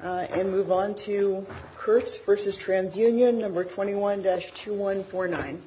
and move on to Kirtz v. Trans Union No. 21-2149.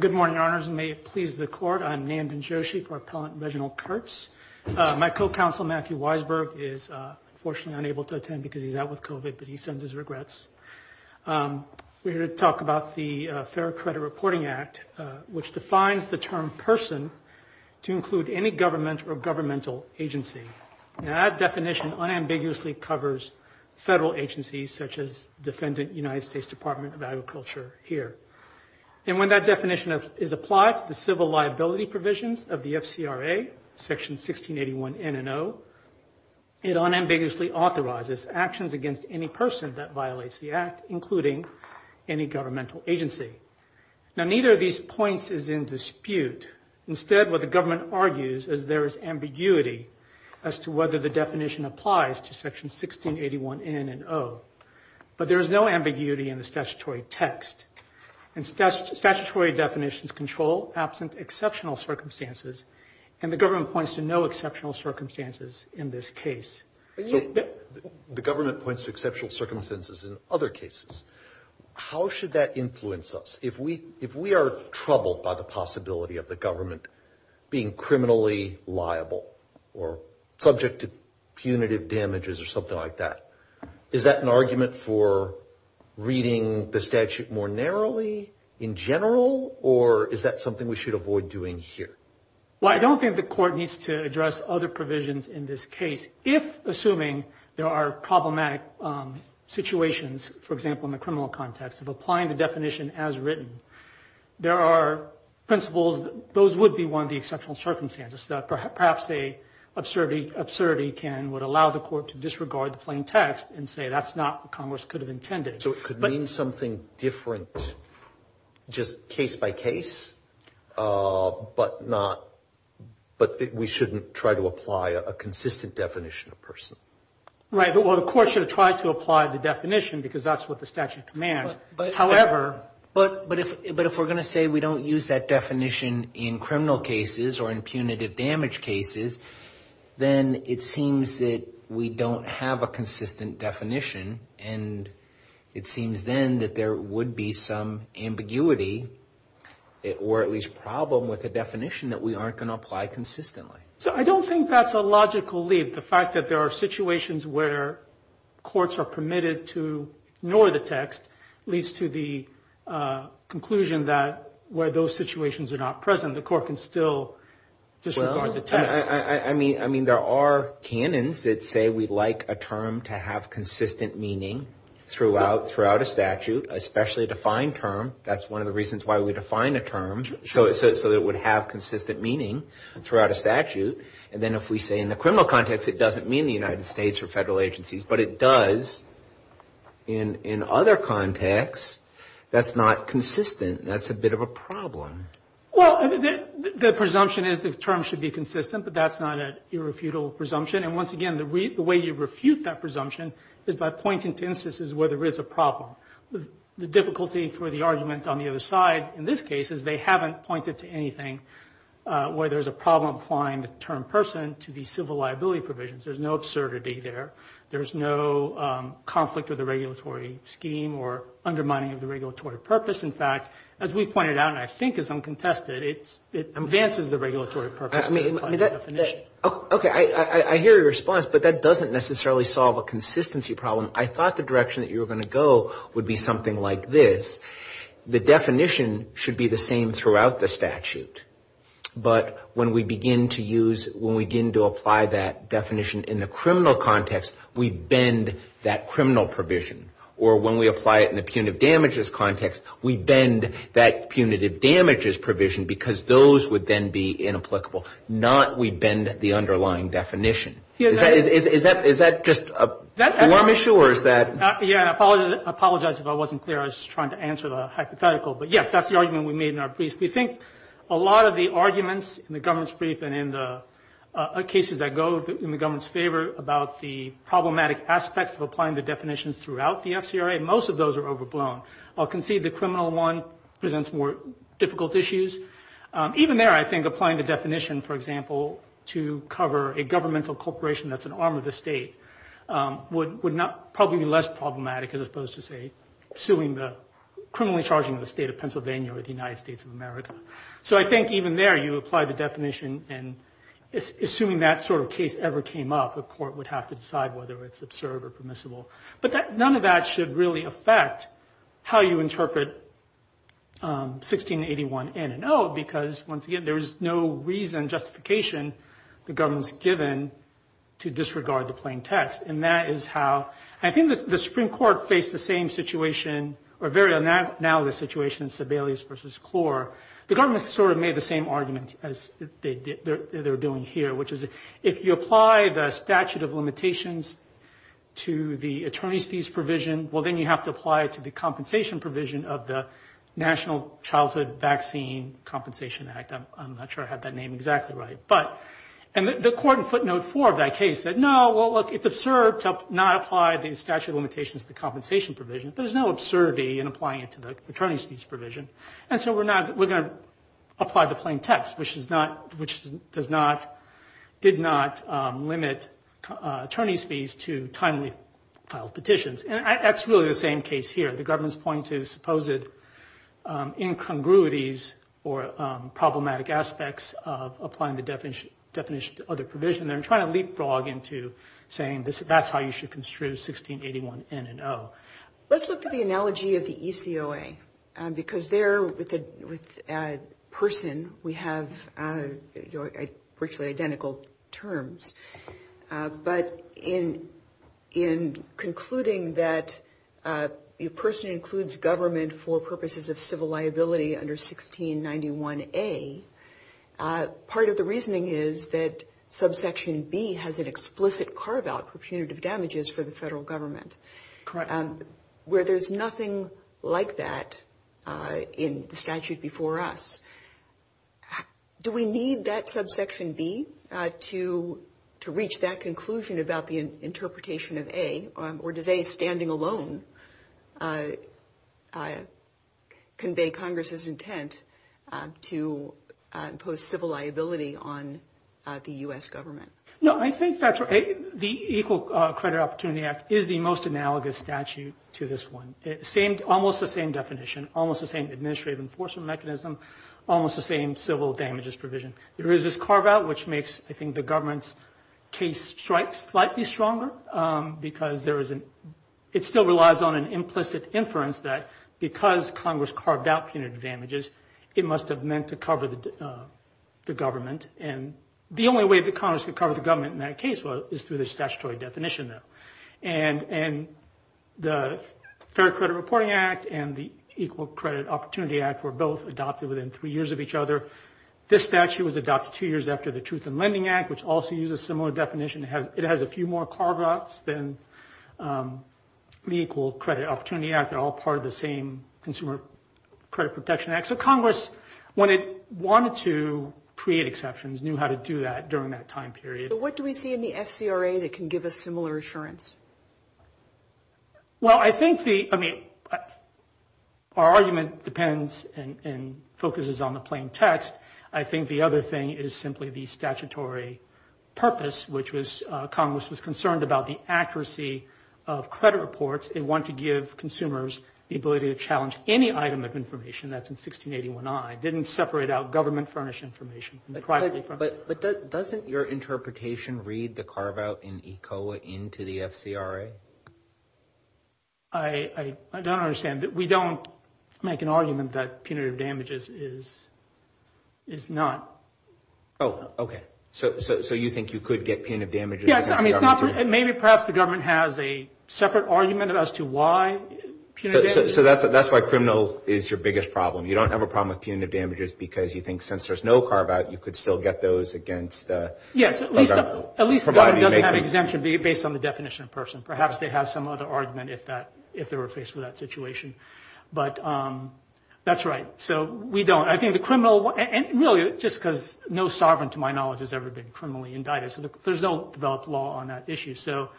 Good morning, Your Honors, and may it please the Court, I'm Nan Bin-Joshi for Appellant Reginald Kirtz. My co-counsel, Matthew Weisberg, is unfortunately unable to attend because he's out with COVID, but he sends his regrets. We're here to talk about the Fair Credit Reporting Act, which defines the term person to include any government or governmental agency. Now, that definition unambiguously covers federal agencies such as defendant United States Department of Agriculture here. And when that definition is applied to the civil liability provisions of the FCRA, Section 1681 N and O, it unambiguously authorizes actions against any person that violates the act, including any governmental agency. Now, neither of these points is in dispute. Instead, what the government argues is there is ambiguity as to whether the definition applies to Section 1681 N and O. But there is no ambiguity in the statutory text. And statutory definitions control absent exceptional circumstances, and the government points to no exceptional circumstances in this case. The government points to exceptional circumstances in other cases. How should that influence us? If we are troubled by the possibility of the government being criminally liable or subject to punitive damages or something like that, is that an argument for reading the statute more narrowly in general, or is that something we should avoid doing here? Well, I don't think the court needs to address other provisions in this case. If, assuming there are problematic situations, for example, in the criminal context of applying the definition as written, there are principles that those would be one of the exceptional circumstances, perhaps an absurdity would allow the court to disregard the plain text and say that's not what Congress could have intended. So it could mean something different just case by case, but we shouldn't try to apply a consistent definition of person. Right. Well, the court should have tried to apply the definition because that's what the statute commands. But if we're going to say we don't use that definition in criminal cases or in punitive damage cases, then it seems that we don't have a consistent definition, and it seems then that there would be some ambiguity or at least problem with the definition that we aren't going to apply consistently. So I don't think that's a logical leap. The fact that there are situations where courts are permitted to ignore the text leads to the conclusion that where those situations are not present, the court can still disregard the text. I mean, there are canons that say we'd like a term to have consistent meaning throughout a statute, especially a defined term. That's one of the reasons why we define a term, so it would have consistent meaning throughout a statute. And then if we say in the criminal context it doesn't mean the United States or federal agencies, but it does in other contexts, that's not consistent. That's a bit of a problem. Well, the presumption is the term should be consistent, but that's not an irrefutable presumption. And once again, the way you refute that presumption is by pointing to instances where there is a problem. The difficulty for the argument on the other side in this case is they haven't pointed to anything where there's a problem applying the term person to the civil liability provisions. There's no absurdity there. There's no conflict with the regulatory scheme or undermining of the regulatory purpose. In fact, as we pointed out and I think is uncontested, it advances the regulatory purpose. Okay, I hear your response, but that doesn't necessarily solve a consistency problem. I thought the direction that you were going to go would be something like this. The definition should be the same throughout the statute. But when we begin to use, when we begin to apply that definition in the criminal context, we bend that criminal provision. Or when we apply it in the punitive damages context, we bend that punitive damages provision because those would then be inapplicable, not we bend the underlying definition. Is that just a form issue or is that? Yeah, I apologize if I wasn't clear. I was just trying to answer the hypothetical. But, yes, that's the argument we made in our brief. We think a lot of the arguments in the government's brief and in the cases that go in the government's favor about the problematic aspects of applying the definitions throughout the FCRA, most of those are overblown. I'll concede the criminal one presents more difficult issues. Even there, I think applying the definition, for example, to cover a governmental corporation that's an arm of the state would probably be less problematic as opposed to, say, suing the, criminally charging the state of Pennsylvania or the United States of America. So I think even there, you apply the definition and assuming that sort of case ever came up, the court would have to decide whether it's absurd or permissible. But none of that should really affect how you interpret 1681N and O because, once again, there is no reason, justification the government's given to disregard the plain text. And that is how I think the Supreme Court faced the same situation or very analogous situation in Sebelius v. Clore. The government sort of made the same argument as they're doing here, which is if you apply the statute of limitations to the attorney's fees provision, well, then you have to apply it to the compensation provision of the National Childhood Vaccine Compensation Act. I'm not sure I have that name exactly right. And the court in footnote 4 of that case said, no, well, look, it's absurd to not apply the statute of limitations to the compensation provision. There's no absurdity in applying it to the attorney's fees provision. And so we're going to apply the plain text, which did not limit attorney's fees to timely filed petitions. And that's really the same case here. The government's point to supposed incongruities or problematic aspects of applying the definition to other provision. They're trying to leapfrog into saying that's how you should construe 1681N and O. Let's look at the analogy of the ECOA, because there with a person we have virtually identical terms. But in concluding that a person includes government for purposes of civil liability under 1691A, part of the reasoning is that there's nothing like that in the statute before us. Do we need that subsection B to reach that conclusion about the interpretation of A? Or does A standing alone convey Congress's intent to impose civil liability on the U.S. government? No, I think that's right. The Equal Credit Opportunity Act is the most analogous statute to this one. Almost the same definition. Almost the same administrative enforcement mechanism. Almost the same civil damages provision. There is this carve out, which makes I think the government's case strike slightly stronger. Because it still relies on an implicit inference that because Congress carved out punitive damages, it must have meant to cover the government. And the only way that Congress could cover the government in that case is through the statutory definition. And the Fair Credit Reporting Act and the Equal Credit Opportunity Act were both adopted within three years of each other. This statute was adopted two years after the Truth in Lending Act, which also uses a similar definition. It has a few more carve outs than the Equal Credit Opportunity Act. They're all part of the same Consumer Credit Protection Act. So Congress, when it wanted to create exceptions, knew how to do that during that time period. So what do we see in the FCRA that can give us similar assurance? Well, I think the, I mean, our argument depends and focuses on the plain text. I think the other thing is simply the statutory purpose, which was Congress was concerned about the accuracy of credit reports. It wanted to give consumers the ability to challenge any item of information that's in 1681I. It didn't separate out government furnished information. But doesn't your interpretation read the carve out in ECOA into the FCRA? I don't understand. We don't make an argument that punitive damages is not. Oh, okay. So you think you could get punitive damages against the government? Maybe perhaps the government has a separate argument as to why punitive damages. So that's why criminal is your biggest problem. You don't have a problem with punitive damages because you think since there's no carve out, you could still get those against. Yes, at least the government doesn't have exemption based on the definition of person. Perhaps they have some other argument if they were faced with that situation. But that's right. So we don't. I think the criminal, and really just because no sovereign to my knowledge has ever been criminally indicted. There's no developed law on that issue. So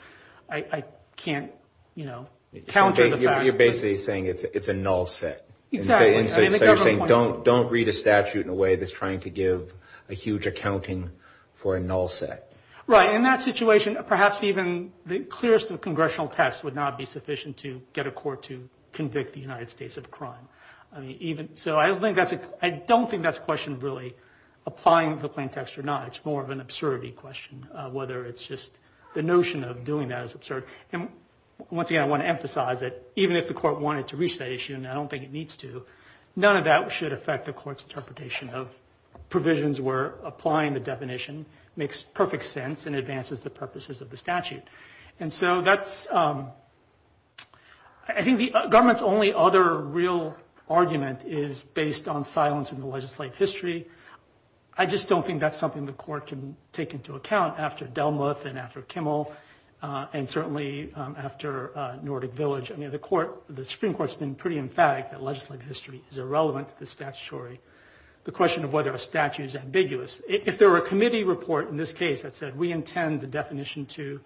I can't, you know, counter the fact. You're basically saying it's a null set. Exactly. So you're saying don't read a statute in a way that's trying to give a huge accounting for a null set. Right. In that situation, perhaps even the clearest of congressional tests would not be sufficient to get a court to convict the United States of crime. So I don't think that's a question of really applying the plain text or not. It's more of an absurdity question, whether it's just the notion of doing that is absurd. And once again, I want to emphasize that even if the court wanted to reach that issue, and I don't think it needs to, none of that should affect the court's interpretation of provisions where applying the definition makes perfect sense and advances the purposes of the statute. And so that's, I think the government's only other real argument is based on silence in the legislative history. I just don't think that's something the court can take into account after Delmuth and after Kimmel and certainly after Nordic Village. I mean, the Supreme Court's been pretty emphatic that legislative history is irrelevant to the statutory. The question of whether a statute is ambiguous, if there were a committee report in this case that said we intend the definition to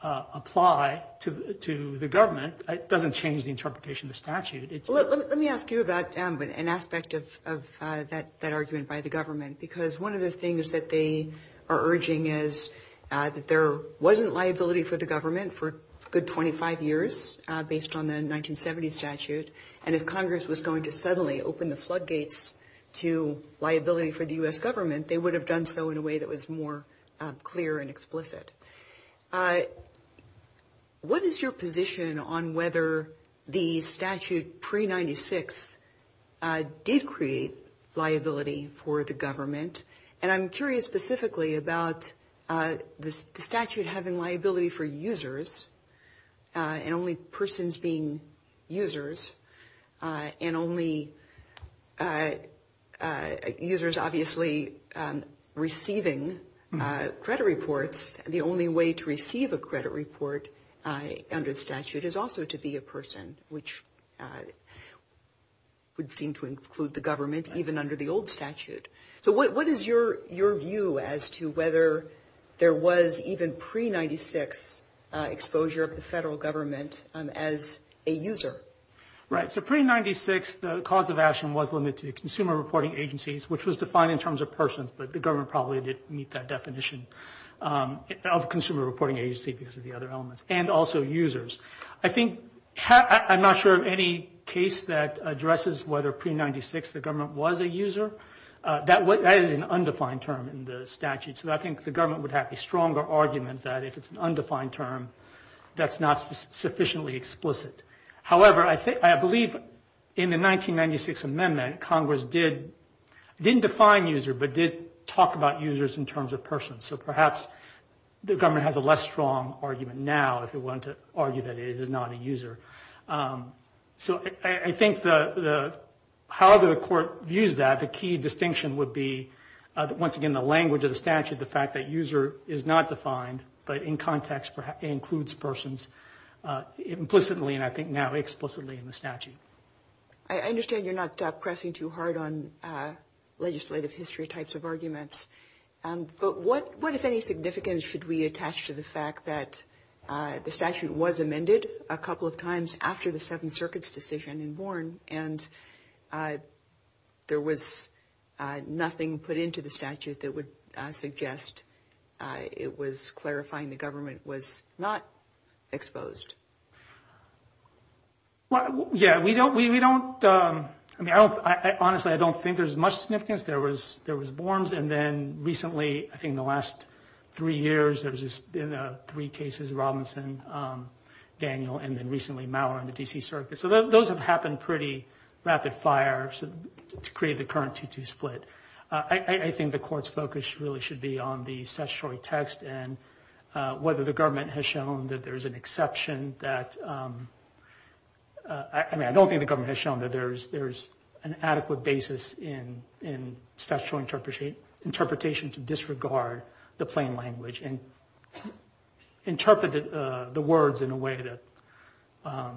apply to the government, it doesn't change the interpretation of the statute. Let me ask you about an aspect of that argument by the government, because one of the things that they are urging is that there wasn't liability for the government for a good 25 years based on the 1970 statute. And if Congress was going to suddenly open the floodgates to liability for the U.S. government, they would have done so in a way that was more clear and explicit. What is your position on whether the statute pre-'96 did create liability for the government? And I'm curious specifically about the statute having liability for users and only persons being users and only users obviously receiving credit reports. The only way to receive a credit report under the statute is also to be a person, which would seem to include the government even under the old statute. So what is your view as to whether there was even pre-'96 exposure of the federal government as a user? Right. So pre-'96, the cause of action was limited to consumer reporting agencies, which was defined in terms of persons, but the government probably didn't meet that definition of consumer reporting agency because of the other elements, and also users. I'm not sure of any case that addresses whether pre-'96 the government was a user. That is an undefined term in the statute. So I think the government would have a stronger argument that if it's an undefined term, that's not sufficiently explicit. However, I believe in the 1996 amendment, Congress didn't define user but did talk about users in terms of persons. So perhaps the government has a less strong argument now if it wanted to argue that it is not a user. So I think however the court views that, the key distinction would be once again the language of the statute, the fact that user is not defined but in context includes persons implicitly and I think now explicitly in the statute. I understand you're not pressing too hard on legislative history types of arguments. But what is any significance should we attach to the fact that the statute was amended a couple of times after the Seventh Circuit's decision in Bourne and there was nothing put into the statute that would suggest it was clarifying the government was not exposed? Well, yeah, we don't, I mean, honestly I don't think there's much significance. There was Bourne's and then recently, I think in the last three years, there's been three cases, Robinson, Daniel, and then recently Mower and the D.C. Circuit. So those have happened pretty rapid fire to create the current 2-2 split. I think the court's focus really should be on the statutory text and whether the government has shown that there's an exception that, I mean, I don't think the government has shown that there's an adequate basis in statutory interpretation to disregard the plain language and interpret the words in a way that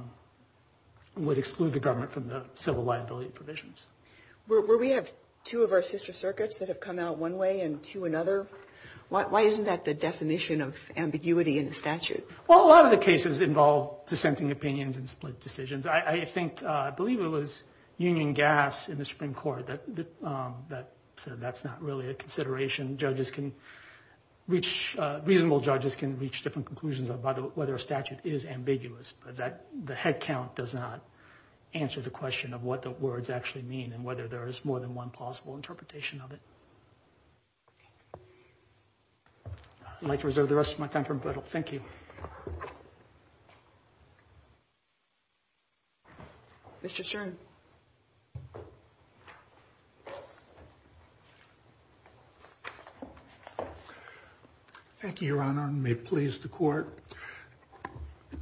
would exclude the government from the civil liability provisions. Well, we have two of our sister circuits that have come out one way and two another. Why isn't that the definition of ambiguity in the statute? Well, a lot of the cases involve dissenting opinions and split decisions. I think, I believe it was Union Gas in the Supreme Court that said that's not really a consideration. Reasonable judges can reach different conclusions about whether a statute is ambiguous, but the head count does not answer the question of what the words actually mean and whether there is more than one possible interpretation of it. I'd like to reserve the rest of my time for rebuttal. Thank you. Mr. Stern. Thank you, Your Honor, and may it please the Court.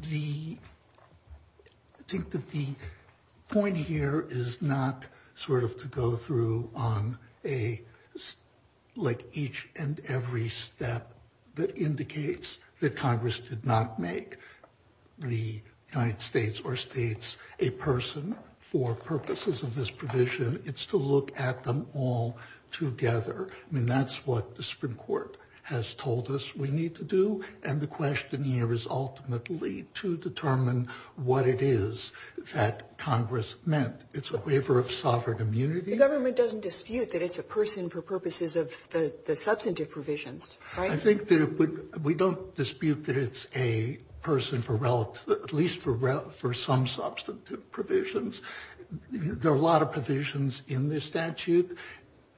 The, I think that the point here is not sort of to go through on a, like each entity, and every step that indicates that Congress did not make the United States or states a person for purposes of this provision. It's to look at them all together. I mean, that's what the Supreme Court has told us we need to do, and the question here is ultimately to determine what it is that Congress meant. It's a waiver of sovereign immunity. The government doesn't dispute that it's a person for purposes of the substantive provisions, right? I think that it would, we don't dispute that it's a person for relative, at least for some substantive provisions. There are a lot of provisions in this statute.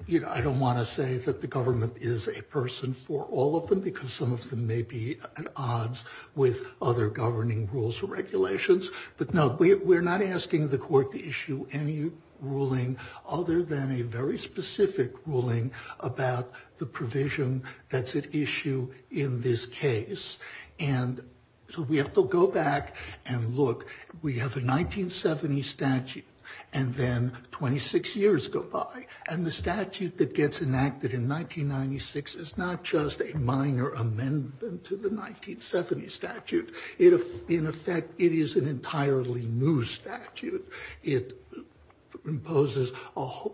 You know, I don't want to say that the government is a person for all of them because some of them may be at odds with other governing rules or other than a very specific ruling about the provision that's at issue in this case. And so we have to go back and look. We have a 1970 statute, and then 26 years go by. And the statute that gets enacted in 1996 is not just a minor amendment to the 1970 statute. In effect, it is an entirely new statute. It imposes a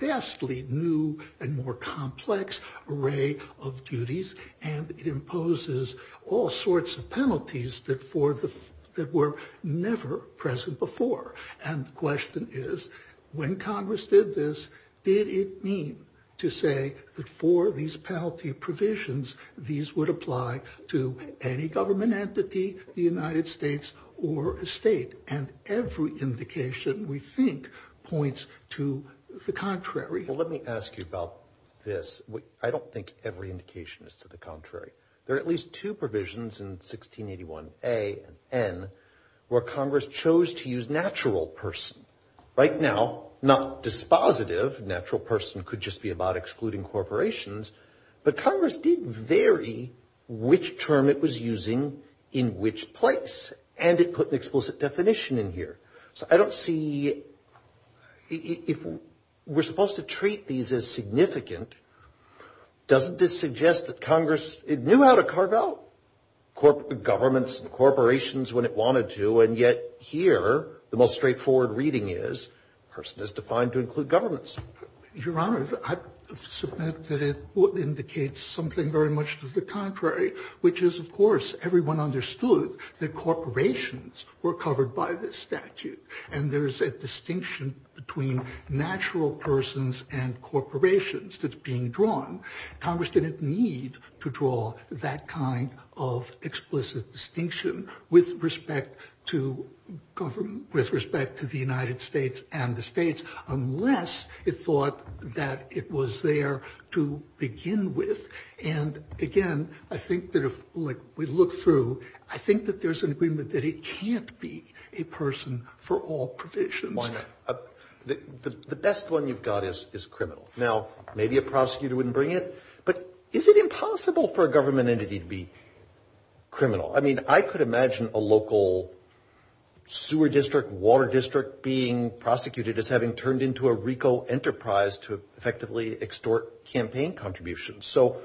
vastly new and more complex array of duties, and it imposes all sorts of penalties that were never present before. And the question is, when Congress did this, did it mean to say that for these penalty provisions, these would apply to any government entity, the United States, or a state? And every indication, we think, points to the contrary. Well, let me ask you about this. I don't think every indication is to the contrary. There are at least two provisions in 1681A and N where Congress chose to use natural person. Right now, not dispositive, natural person could just be something about excluding corporations, but Congress did vary which term it was using in which place, and it put an explicit definition in here. So I don't see, if we're supposed to treat these as significant, doesn't this suggest that Congress, it knew how to carve out governments and corporations when it wanted to, and yet here, the most straightforward reading is, person is defined to include governments. Your Honor, I submit that it indicates something very much to the contrary, which is, of course, everyone understood that corporations were covered by this statute, and there's a distinction between natural persons and corporations that's being drawn. Congress didn't need to draw that kind of explicit distinction with respect to government, with respect to the United States and the states, unless it thought that it was there to begin with, and again, I think that if, like, we look through, I think that there's an agreement that it can't be a person for all provisions. Why not? The best one you've got is criminal. Now, maybe a prosecutor wouldn't bring it, but is it impossible for a government entity to be criminal? I mean, I could imagine a local sewer district, water district being prosecuted as having turned into a RICO enterprise to effectively extort campaign contributions, so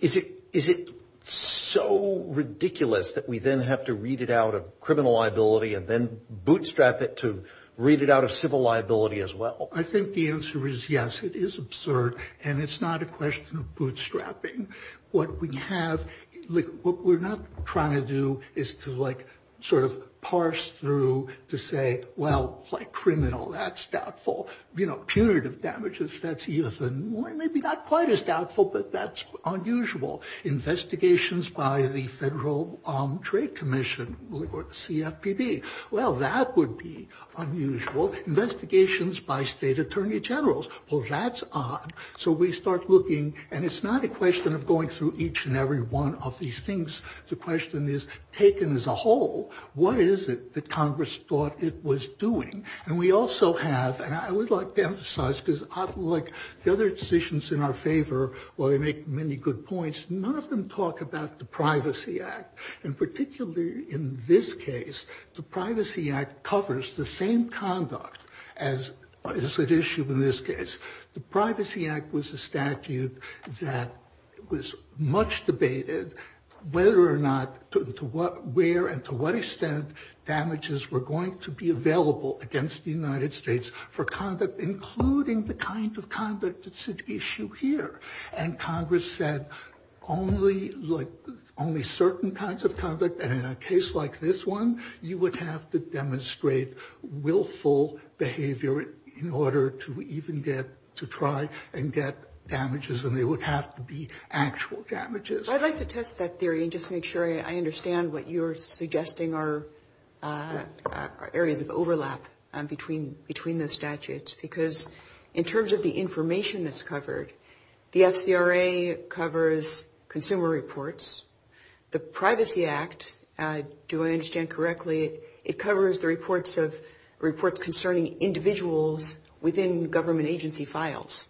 is it so ridiculous that we then have to read it out of criminal liability and then bootstrap it to read it out of civil liability as well? I think the answer is yes, it is absurd, and it's not a question of bootstrapping. What we have, like, what we're not trying to do is to, like, sort of parse through to say, well, like, criminal, that's doubtful. You know, punitive damages, that's even maybe not quite as doubtful, but that's unusual. Investigations by the Federal Trade Commission or the CFPB, well, that would be unusual. Investigations by state attorney generals, well, that's odd, so we start looking, and it's not a question of going through each and every one of these things. The question is, taken as a whole, what is it that Congress thought it was doing? And we also have, and I would like to emphasize, because like the other decisions in our favor, while they make many good points, none of them talk about the Privacy Act. And particularly in this case, the Privacy Act covers the same conduct as is at issue in this case. The Privacy Act was a statute that was much debated whether or not, where and to what extent damages were going to be available against the United States for conduct, including the kind of conduct that's at issue here. And Congress said only, like, only certain kinds of conduct, and in a case like this one, you would have to demonstrate willful behavior in order to even get, to try and get damages, and they would have to be actual damages. I'd like to test that theory and just make sure I understand what you're suggesting are areas of overlap between those statutes. Because in terms of the information that's covered, the FCRA covers consumer reports, the Privacy Act, do I understand correctly, it covers the reports of, reports concerning individuals within government agency files,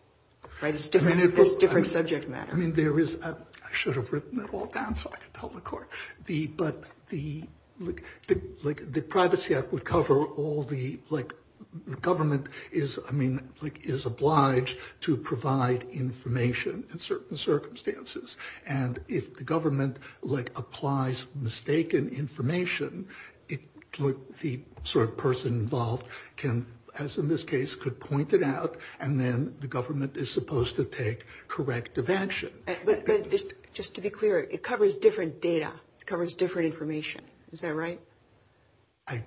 right? It's different subject matter. I mean, there is, I should have written it all down so I could tell the court, but the, like, the Privacy Act would cover all the, like, government is, I mean, like, is obliged to provide information in certain circumstances. And if the government, like, applies mistaken information, the sort of person involved can, as in this case, could point it out, and then the government is supposed to take corrective action. But just to be clear, it covers different data, it covers different information, is that right? I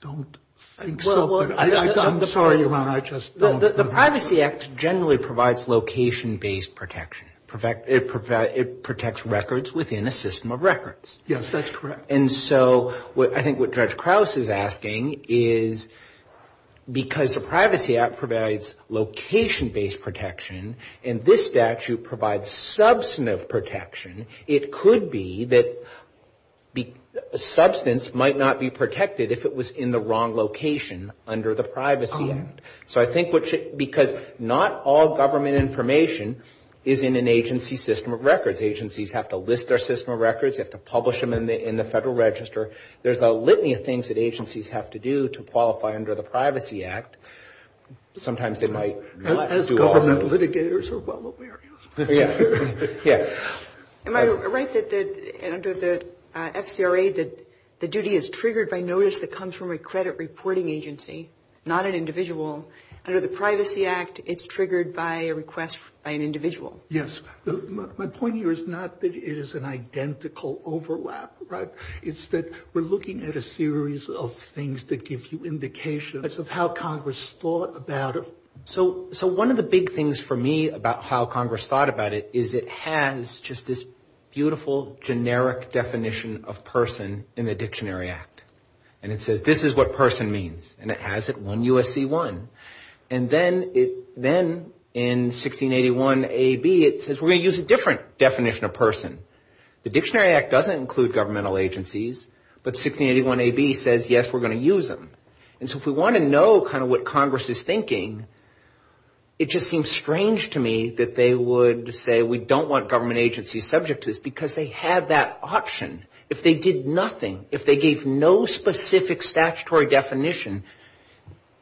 don't think so, but I'm sorry, Your Honor, I just don't. The Privacy Act generally provides location-based protection. It protects records within a system of records. Yes, that's correct. And so I think what Judge Krauss is asking is, because the Privacy Act provides location-based protection, and this statute provides substantive protection, it could be that substance might not be protected if it was in the wrong location under the Privacy Act. So I think what should, because not all government information is in an agency system of records. Because agencies have to list their system of records, they have to publish them in the Federal Register. There's a litany of things that agencies have to do to qualify under the Privacy Act. Sometimes they might not do all of them. As government litigators are well aware. Am I right that under the FCRA, the duty is triggered by notice that comes from a credit reporting agency, not an individual? Under the Privacy Act, it's triggered by a request by an individual? Yes. My point here is not that it is an identical overlap, right? It's that we're looking at a series of things that give you indications of how Congress thought about it. The way Congress thought about it is it has just this beautiful generic definition of person in the Dictionary Act. And it says this is what person means. And it has it, 1 U.S.C. 1. And then in 1681 A.B., it says we're going to use a different definition of person. The Dictionary Act doesn't include governmental agencies, but 1681 A.B. says, yes, we're going to use them. And so if we want to know kind of what Congress is thinking, it just seems strange to me that they would say we don't want government agencies subject to this. Because they had that option. If they did nothing, if they gave no specific statutory definition,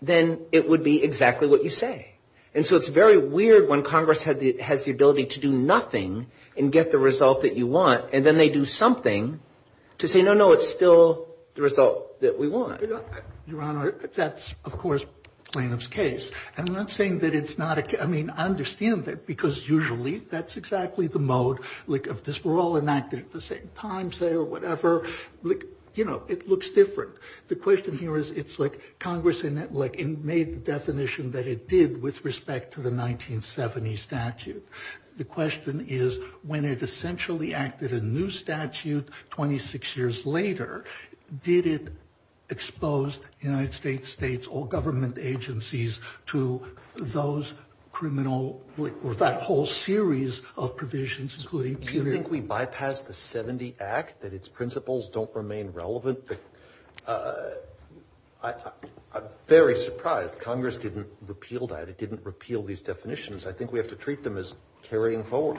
then it would be exactly what you say. And so it's very weird when Congress has the ability to do nothing and get the result that you want, and then they do something to say, no, no, it's still the result that we want. Your Honor, that's, of course, plaintiff's case. I'm not saying that it's not a case. I mean, I understand that because usually that's exactly the mode of this. We're all enacted at the same time, say, or whatever. You know, it looks different. The question here is it's like Congress made the definition that it did with respect to the 1970 statute. The question is when it essentially acted a new statute 26 years later, did it expose in a way that it did in the 1970 statute? Did it expose the United States states or government agencies to those criminal or that whole series of provisions, including period? Do you think we bypassed the 70 Act, that its principles don't remain relevant? I'm very surprised Congress didn't repeal that. It didn't repeal these definitions. I think we have to treat them as carrying forward.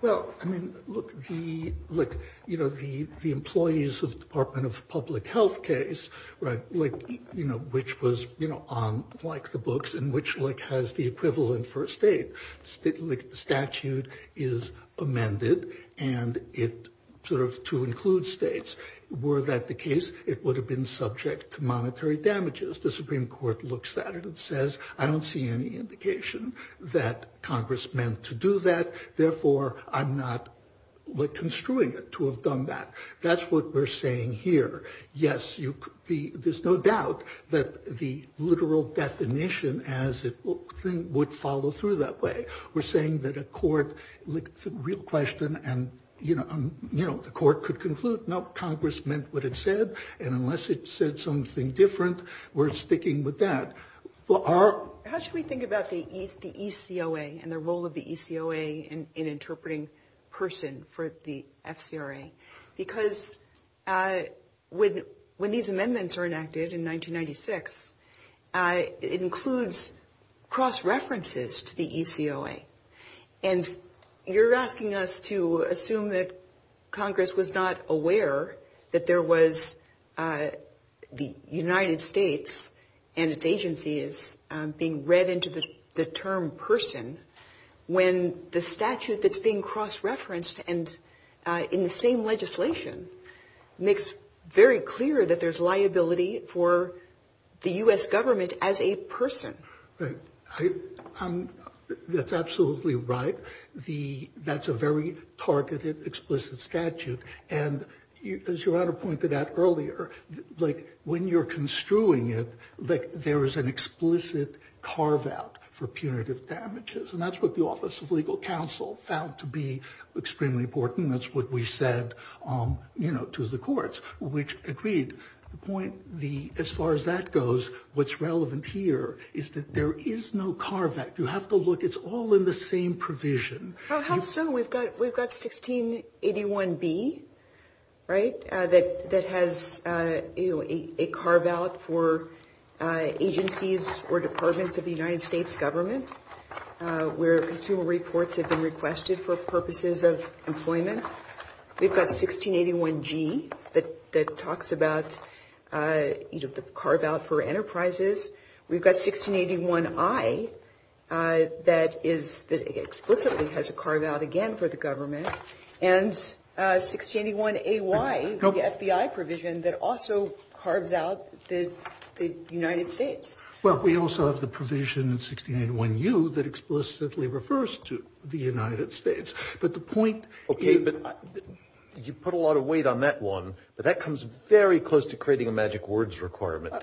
Well, I mean, look, the look, you know, the the employees of Department of Public Health case, right? Like, you know, which was, you know, on like the books in which like has the equivalent for a state. The statute is amended and it sort of to include states were that the case, it would have been subject to monetary damages. The Supreme Court looks at it and says, I don't see any indication that Congress meant to do that. Therefore, I'm not like construing it to have done that. That's what we're saying here. Yes, you could be. There's no doubt that the literal definition as it would follow through that way. We're saying that a court real question and, you know, you know, the court could conclude, no, Congress meant what it said. And unless it said something different, we're sticking with that. How should we think about the East, the ECOA and the role of the ECOA in interpreting person for the FCRA? Because when when these amendments are enacted in 1996, it includes cross references to the ECOA. And you're asking us to assume that Congress was not aware that there was the United States and its agencies being read into the term person when the statute that's being cross referenced and in the same legislation makes very clear that there's liability for the U.S. government as a person. That's absolutely right. The that's a very targeted, explicit statute. And as your honor pointed out earlier, like when you're construing it, like there is an explicit carve out for punitive damages. And that's what the Office of Legal Counsel found to be extremely important. That's what we said to the courts, which agreed the point. The as far as that goes, what's relevant here is that there is no car that you have to look. It's all in the same provision. So we've got we've got 1681 B, right. That that has a carve out for agencies or departments of the United States government where consumer reports have been requested for purposes of employment. We've got 1681 G that that talks about the carve out for enterprises. We've got 1681 I that is explicitly has a carve out again for the government. And 1681 A.Y., the FBI provision that also carves out the United States. Well, we also have the provision in 1681 U that explicitly refers to the United States. But the point. OK, but you put a lot of weight on that one, but that comes very close to creating a magic words requirement.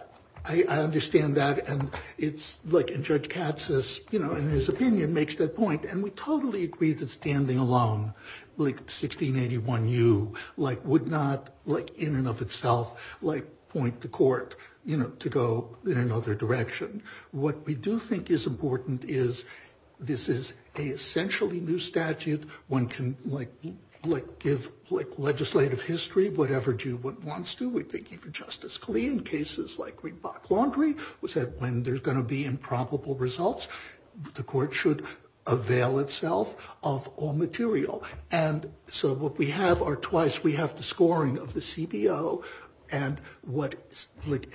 I understand that. And it's like in Judge Katz's, you know, in his opinion, makes that point. And we totally agree that standing alone like 1681 U like would not like in and of itself like point to court, you know, to go in another direction. What we do think is important is this is a essentially new statute. One can like like give like legislative history, whatever do what wants to. We think you can just as clean cases like we bought laundry. We said when there's going to be improbable results, the court should avail itself of all material. And so what we have are twice. We have the scoring of the CBO and what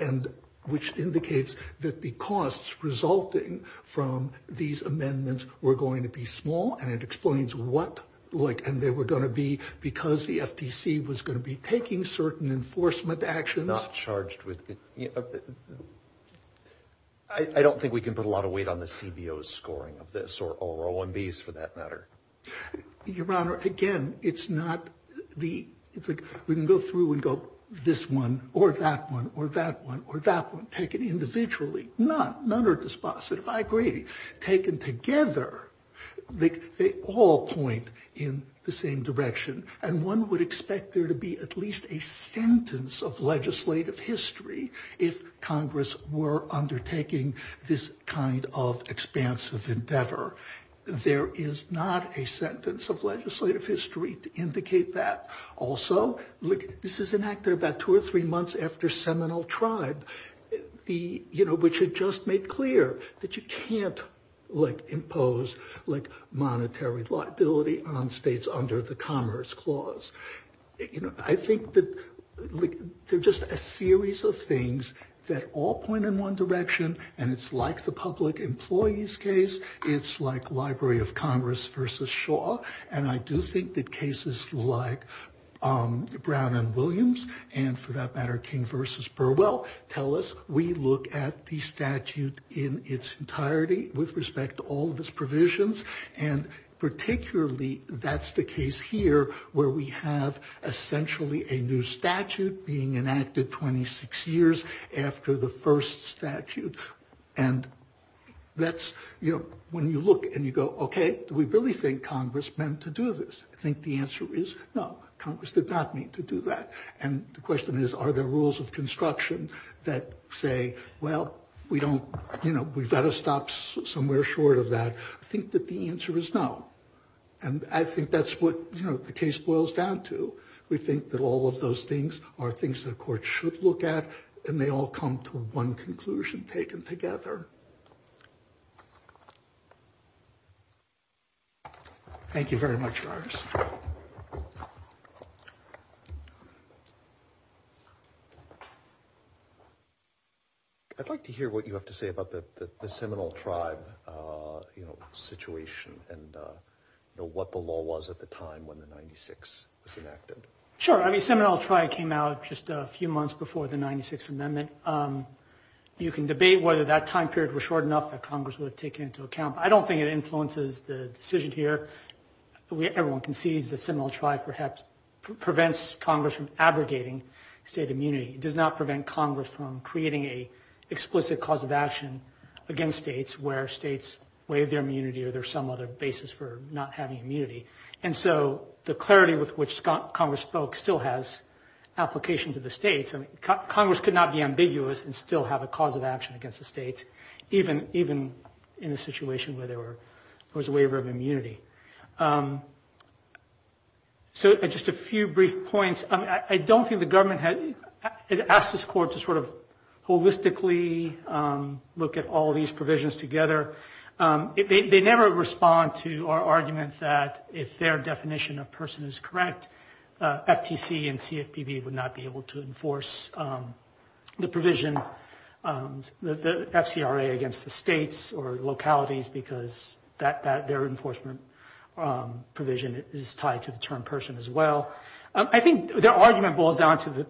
and which indicates that the costs resulting from these amendments were going to be small. And it explains what like and they were going to be because the FTC was going to be taking certain enforcement action. Not charged with it. I don't think we can put a lot of weight on the CBO scoring of this or on these for that matter. Your Honor, again, it's not the it's like we can go through and go this one or that one or that one or that one taken individually. None are dispositive. I agree. Taken together, they all point in the same direction. And one would expect there to be at least a sentence of legislative history. If Congress were undertaking this kind of expansive endeavor. There is not a sentence of legislative history to indicate that. Also, look, this is an actor about two or three months after Seminole tribe. The you know, which had just made clear that you can't like impose like monetary liability on states under the Commerce Clause. I think that they're just a series of things that all point in one direction. And it's like the public employees case. It's like Library of Congress versus Shaw. And I do think that cases like Brown and Williams and for that matter, King versus Burwell tell us we look at the statute in its entirety with respect to all of its provisions. And particularly that's the case here where we have essentially a new statute being enacted 26 years after the first statute. And that's when you look and you go, OK, we really think Congress meant to do this. I think the answer is no, Congress did not mean to do that. And the question is, are there rules of construction that say, well, we don't you know, we've got to stop somewhere short of that. I think that the answer is no. And I think that's what the case boils down to. We think that all of those things are things that the court should look at and they all come to one conclusion taken together. Thank you very much. I'd like to hear what you have to say about the Seminole Tribe situation and what the law was at the time when the 96 was enacted. Sure, I mean, the Seminole Tribe came out just a few months before the 96 Amendment. You can debate whether that time period was short enough that Congress would have taken into account. I don't think it influences the decision here. Everyone concedes the Seminole Tribe perhaps prevents Congress from abrogating state immunity. It does not prevent Congress from creating an explicit cause of action against states where states waive their immunity or there's some other basis for not having immunity. And so the clarity with which Congress spoke still has application to the states. I mean, Congress could not be ambiguous and still have a cause of action against the states, even in a situation where there was a waiver of immunity. So just a few brief points. I don't think the government had asked this court to sort of holistically look at all these provisions together. They never respond to our argument that if their definition of person is correct, FTC and CFPB would not be able to enforce the provision, the FCRA against the states or localities because their enforcement provision is tied to the term person as well. I think their argument boils down to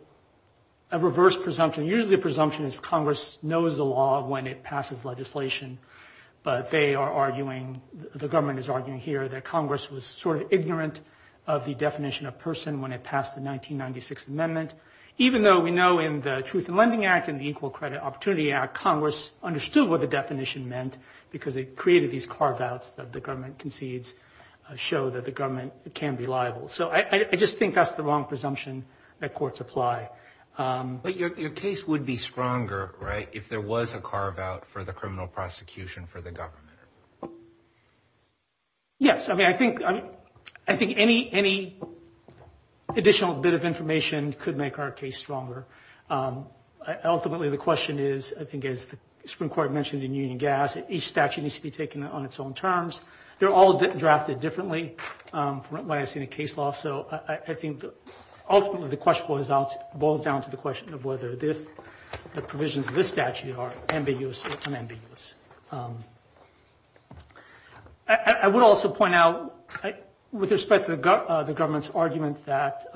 a reverse presumption. Usually the presumption is Congress knows the law when it passes legislation, but they are arguing, the government is arguing here that Congress was sort of ignorant of the definition of person when it passed the 1996 Amendment. Even though we know in the Truth in Lending Act and the Equal Credit Opportunity Act, Congress understood what the definition meant because it created these carve-outs that the government concedes show that the government can be liable. So I just think that's the wrong presumption that courts apply. But your case would be stronger, right, if there was a carve-out for the criminal prosecution for the government? Yes. I mean, I think any additional bit of information could make our case stronger. Ultimately the question is, I think as the Supreme Court mentioned in Union Gas, each statute needs to be taken on its own terms. They're all drafted differently from what I see in the case law. So I think ultimately the question boils down to the question of whether the provisions of this statute are ambiguous or unambiguous. I would also point out with respect to the government's argument that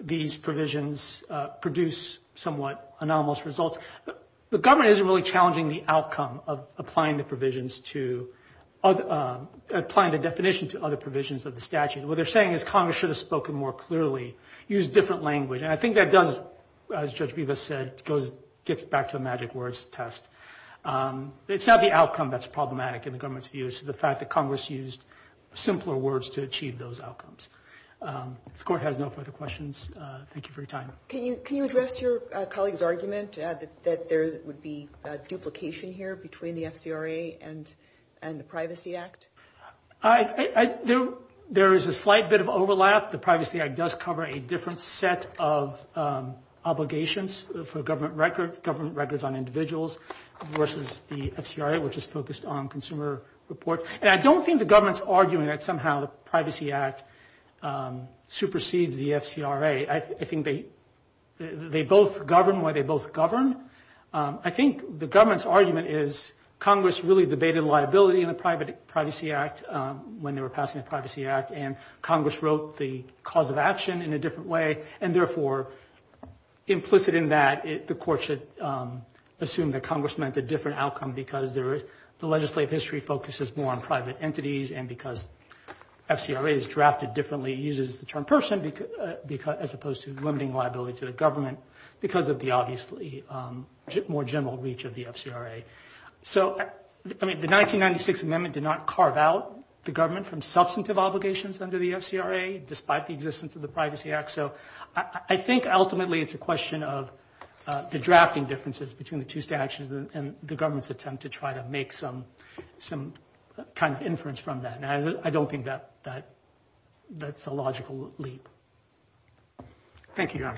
these provisions produce somewhat anomalous results. The government isn't really challenging the outcome of applying the definitions to other provisions of the statute. What they're saying is Congress should have spoken more clearly, used different language. And I think that does, as Judge Bivas said, gets back to the magic words test. It's not the outcome that's problematic in the government's view. It's the fact that Congress used simpler words to achieve those outcomes. The Court has no further questions. Thank you for your time. Can you address your colleague's argument that there would be duplication here between the FCRA and the Privacy Act? There is a slight bit of overlap. The Privacy Act does cover a different set of obligations for government records on individuals versus the FCRA, which is focused on consumer reports. And I don't think the government's arguing that somehow the Privacy Act supersedes the FCRA. I think they both govern why they both govern. I think the government's argument is Congress really debated liability in the Privacy Act when they were passing the Privacy Act, and Congress wrote the cause of action in a different way. And therefore, implicit in that, the Court should assume that Congress meant a different outcome because the legislative history focuses more on private entities and because FCRA is drafted differently, uses the term person as opposed to limiting liability to the government because of the obviously more general reach of the FCRA. The 1996 amendment did not carve out the government from substantive obligations under the FCRA, despite the existence of the Privacy Act. So I think ultimately it's a question of the drafting differences between the two statutes and the government's attempt to try to make some kind of inference from that. And I don't think that's a logical leap. Thank you, Your Honor.